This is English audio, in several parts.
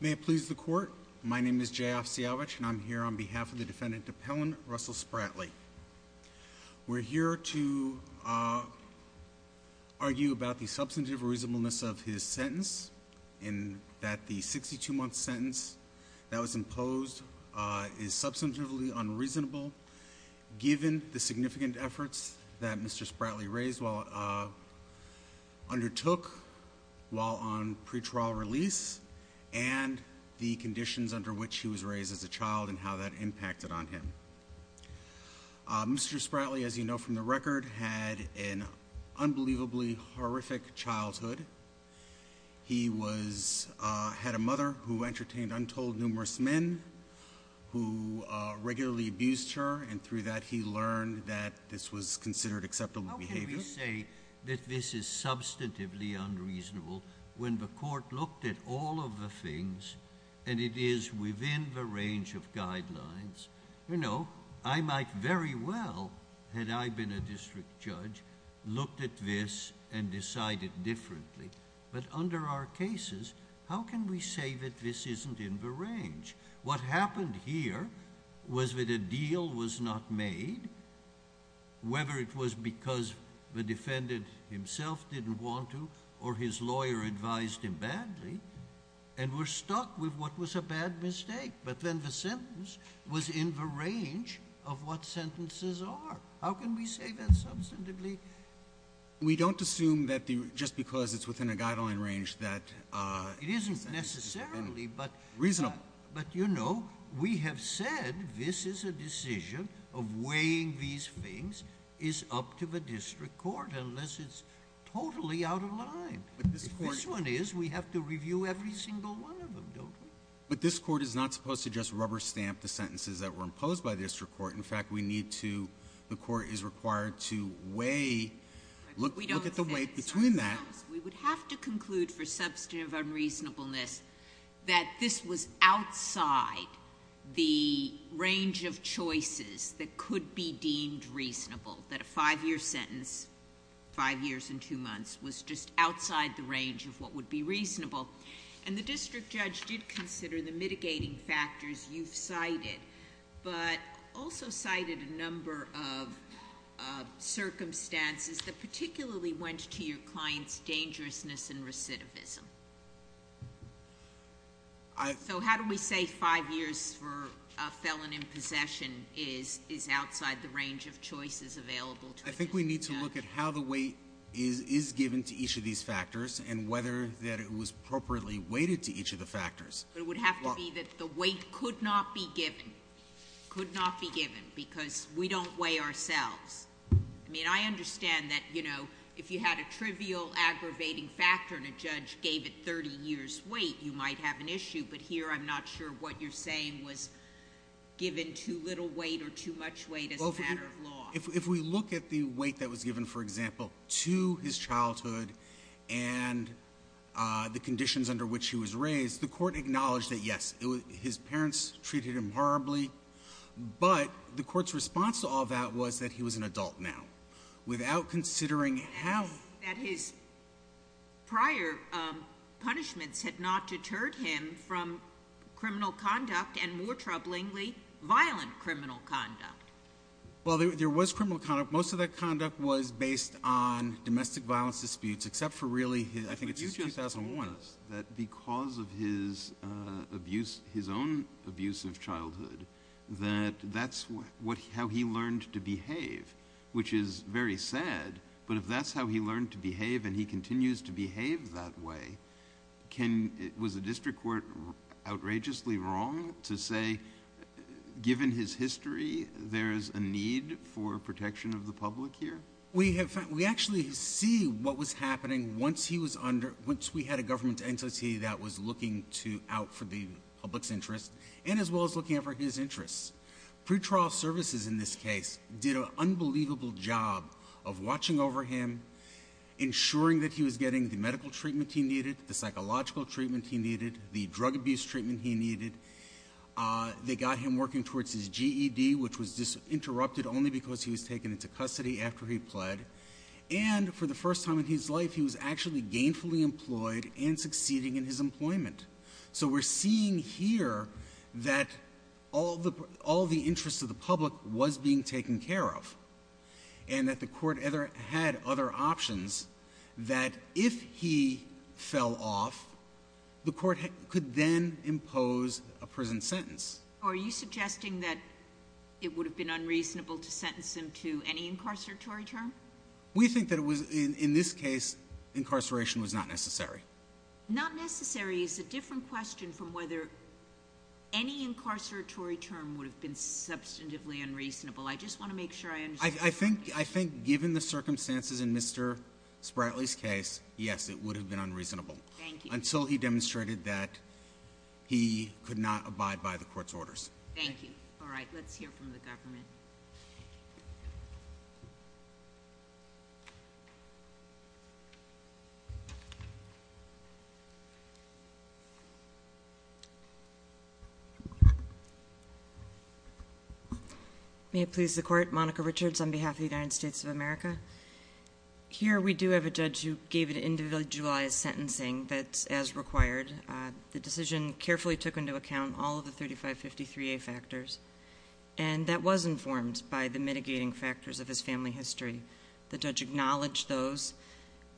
May it please the court, my name is J.F. Siavich and I'm here on behalf of the defendant Appellant Russell Spratley. We're here to argue about the substantive reasonableness of his sentence in that the 62 month sentence that was imposed is substantively unreasonable given the significant efforts that Mr. Spratley undertook while on pre-trial release and the conditions under which he was raised as a child and how that impacted on him. Mr. Spratley as you know from the record had an unbelievably horrific childhood. He had a mother who entertained untold numerous men who regularly abused her and through that he learned that this was considered acceptable behavior. How can we say that this is substantively unreasonable when the court looked at all of the things and it is within the range of guidelines? I might very well, had I been a district judge, looked at this and decided differently, but under our cases how can we say that this isn't in the range? What happened here was that the deal was not made, whether it was because the defendant himself didn't want to or his lawyer advised him badly and were stuck with what was a bad mistake, but then the sentence was in the range of what sentences are. How can we say that substantively? We don't assume that just because it's within a guideline range that... It isn't necessarily, but we have said this is a decision of weighing these things is up to the district court unless it's totally out of line. If this one is, we have to review every single one of them, don't we? But this court is not supposed to just rubber stamp the sentences that were imposed by the district court. In fact, we need to, the court is required to weigh, look at the weight between that. We would have to conclude for substantive unreasonableness that this was outside the range of choices that could be deemed reasonable, that a five-year sentence, five years and two months, was just outside the range of what would be reasonable. The district judge did consider the mitigating factors you've cited, but also cited a number of circumstances that particularly went to your client's dangerousness and recidivism. So how do we say five years for a felon in possession is outside the range of choices available to a district judge? I think we need to look at how the weight is given to each of these factors and whether that it was appropriately weighted to each of the factors. But it would have to be that the weight could not be given, could not be given, because we don't weigh ourselves. I mean, I understand that, you know, if you had a trivial aggravating factor and a judge gave it 30 years' weight, you might have an issue, but here I'm not sure what you're saying was given too little weight or too much weight as a matter of law. If we look at the weight that was given, for example, to his childhood and the conditions under which he was raised, the court acknowledged that, yes, his parents treated him horribly, but the court's response to all that was that he was an adult now. Without considering how— That his prior punishments had not deterred him from criminal conduct and, more troublingly, violent criminal conduct. Well, there was criminal conduct. Most of that conduct was based on domestic violence disputes, except for really, I think it's since 2001— that that's how he learned to behave, which is very sad. But if that's how he learned to behave and he continues to behave that way, was the district court outrageously wrong to say, given his history, there is a need for protection of the public here? We actually see what was happening once we had a government entity that was looking out for the public's interests and as well as looking out for his interests. Pretrial services, in this case, did an unbelievable job of watching over him, ensuring that he was getting the medical treatment he needed, the psychological treatment he needed, the drug abuse treatment he needed. They got him working towards his GED, which was interrupted only because he was taken into custody after he pled. And for the first time in his life, he was actually gainfully employed and succeeding in his employment. So we're seeing here that all the interests of the public was being taken care of and that the court had other options that, if he fell off, the court could then impose a prison sentence. Are you suggesting that it would have been unreasonable to sentence him to any incarceratory term? We think that it was, in this case, incarceration was not necessary. Not necessary is a different question from whether any incarceratory term would have been substantively unreasonable. I just want to make sure I understand. I think, given the circumstances in Mr. Spratley's case, yes, it would have been unreasonable. Thank you. Until he demonstrated that he could not abide by the court's orders. Thank you. All right. Let's hear from the government. May it please the court. Monica Richards on behalf of the United States of America. Here we do have a judge who gave an individualized sentencing that's as required. The decision carefully took into account all of the 3553A factors. And that was informed by the mitigating factors of his family history. The judge acknowledged those,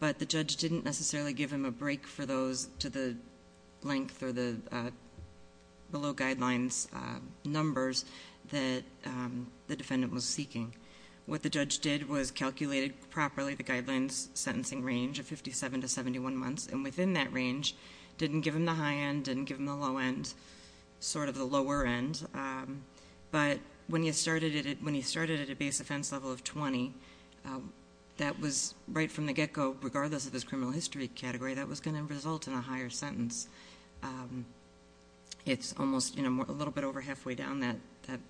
but the judge didn't necessarily give him a break for those to the length or the below guidelines numbers that the defendant was seeking. What the judge did was calculated properly the guidelines sentencing range of 57 to 71 months. And within that range, didn't give him the high end, didn't give him the low end, sort of the lower end. But when he started at a base offense level of 20, that was right from the get-go, regardless of his criminal history category, that was going to result in a higher sentence. It's almost a little bit over halfway down that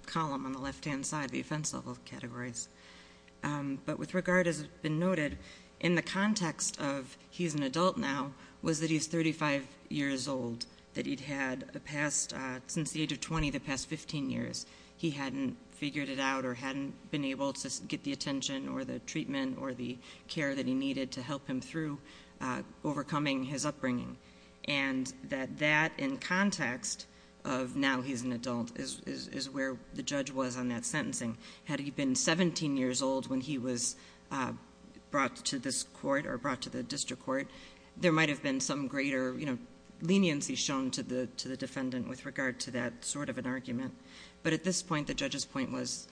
column on the left-hand side, the offense level categories. But with regard, as has been noted, in the context of he's an adult now, was that he's 35 years old, that he'd had a past, since the age of 20, the past 15 years, he hadn't figured it out or hadn't been able to get the attention or the treatment or the care that he needed to help him through overcoming his upbringing. And that that, in context of now he's an adult, is where the judge was on that sentencing. Had he been 17 years old when he was brought to this court or brought to the district court, there might have been some greater leniency shown to the defendant with regard to that sort of an argument. But at this point, the judge's point was,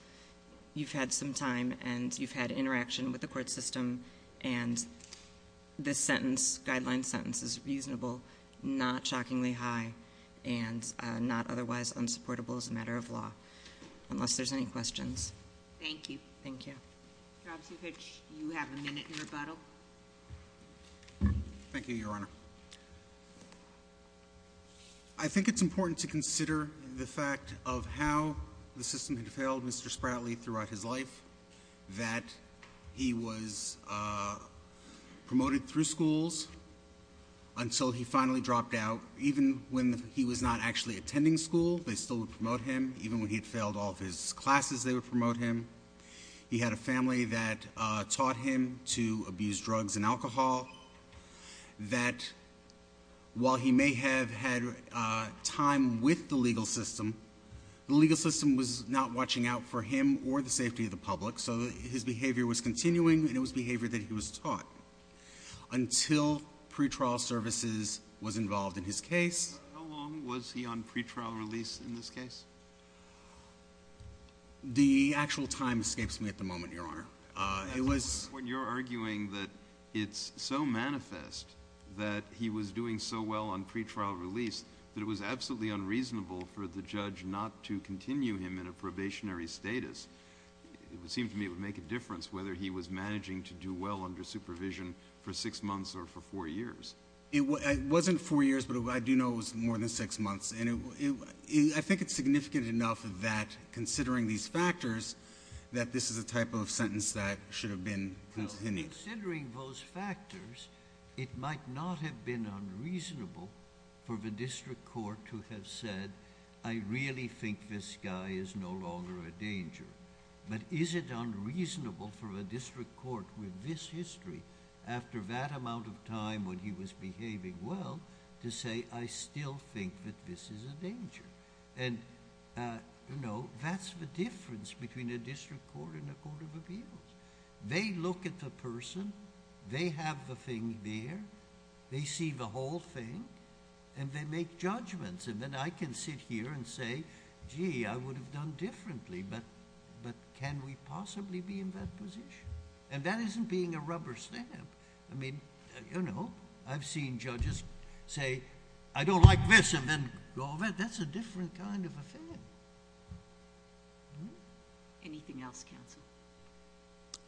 you've had some time and you've had interaction with the court system, and this sentence, guideline sentence, is reasonable, not shockingly high, and not otherwise unsupportable as a matter of law, unless there's any questions. Thank you. Thank you. Jobsie Fitch, you have a minute in rebuttal. Thank you, Your Honor. I think it's important to consider the fact of how the system had failed Mr. Spratley throughout his life, that he was promoted through schools until he finally dropped out. Even when he was not actually attending school, they still would promote him. Even when he had failed all of his classes, they would promote him. He had a family that taught him to abuse drugs and alcohol, that while he may have had time with the legal system, the legal system was not watching out for him or the safety of the public. So his behavior was continuing, and it was behavior that he was taught until pretrial services was involved in his case. How long was he on pretrial release in this case? The actual time escapes me at the moment, Your Honor. It was — At this point, you're arguing that it's so manifest that he was doing so well on pretrial release that it was absolutely unreasonable for the judge not to continue him in a probationary status. It would seem to me it would make a difference whether he was managing to do well under supervision for six months or for four years. It wasn't four years, but I do know it was more than six months. And I think it's significant enough that, considering these factors, that this is a type of sentence that should have been continued. Considering those factors, it might not have been unreasonable for the district court to have said, I really think this guy is no longer a danger. But is it unreasonable for a district court with this history, after that amount of time when he was behaving well, to say, I still think that this is a danger? And, you know, that's the difference between a district court and a court of appeals. They look at the person. They have the thing there. They see the whole thing, and they make judgments. And then I can sit here and say, gee, I would have done differently, but can we possibly be in that position? And that isn't being a rubber stamp. I mean, you know, I've seen judges say, I don't like this, and then go, well, that's a different kind of affair. Anything else, counsel?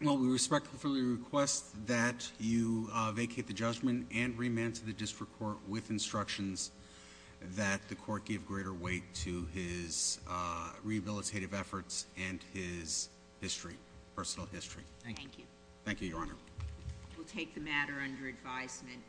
Well, we respectfully request that you vacate the judgment and remand to the district court with instructions that the court give greater weight to his rehabilitative efforts and his history, personal history. Thank you. Thank you, Your Honor. We'll take the matter under advisement.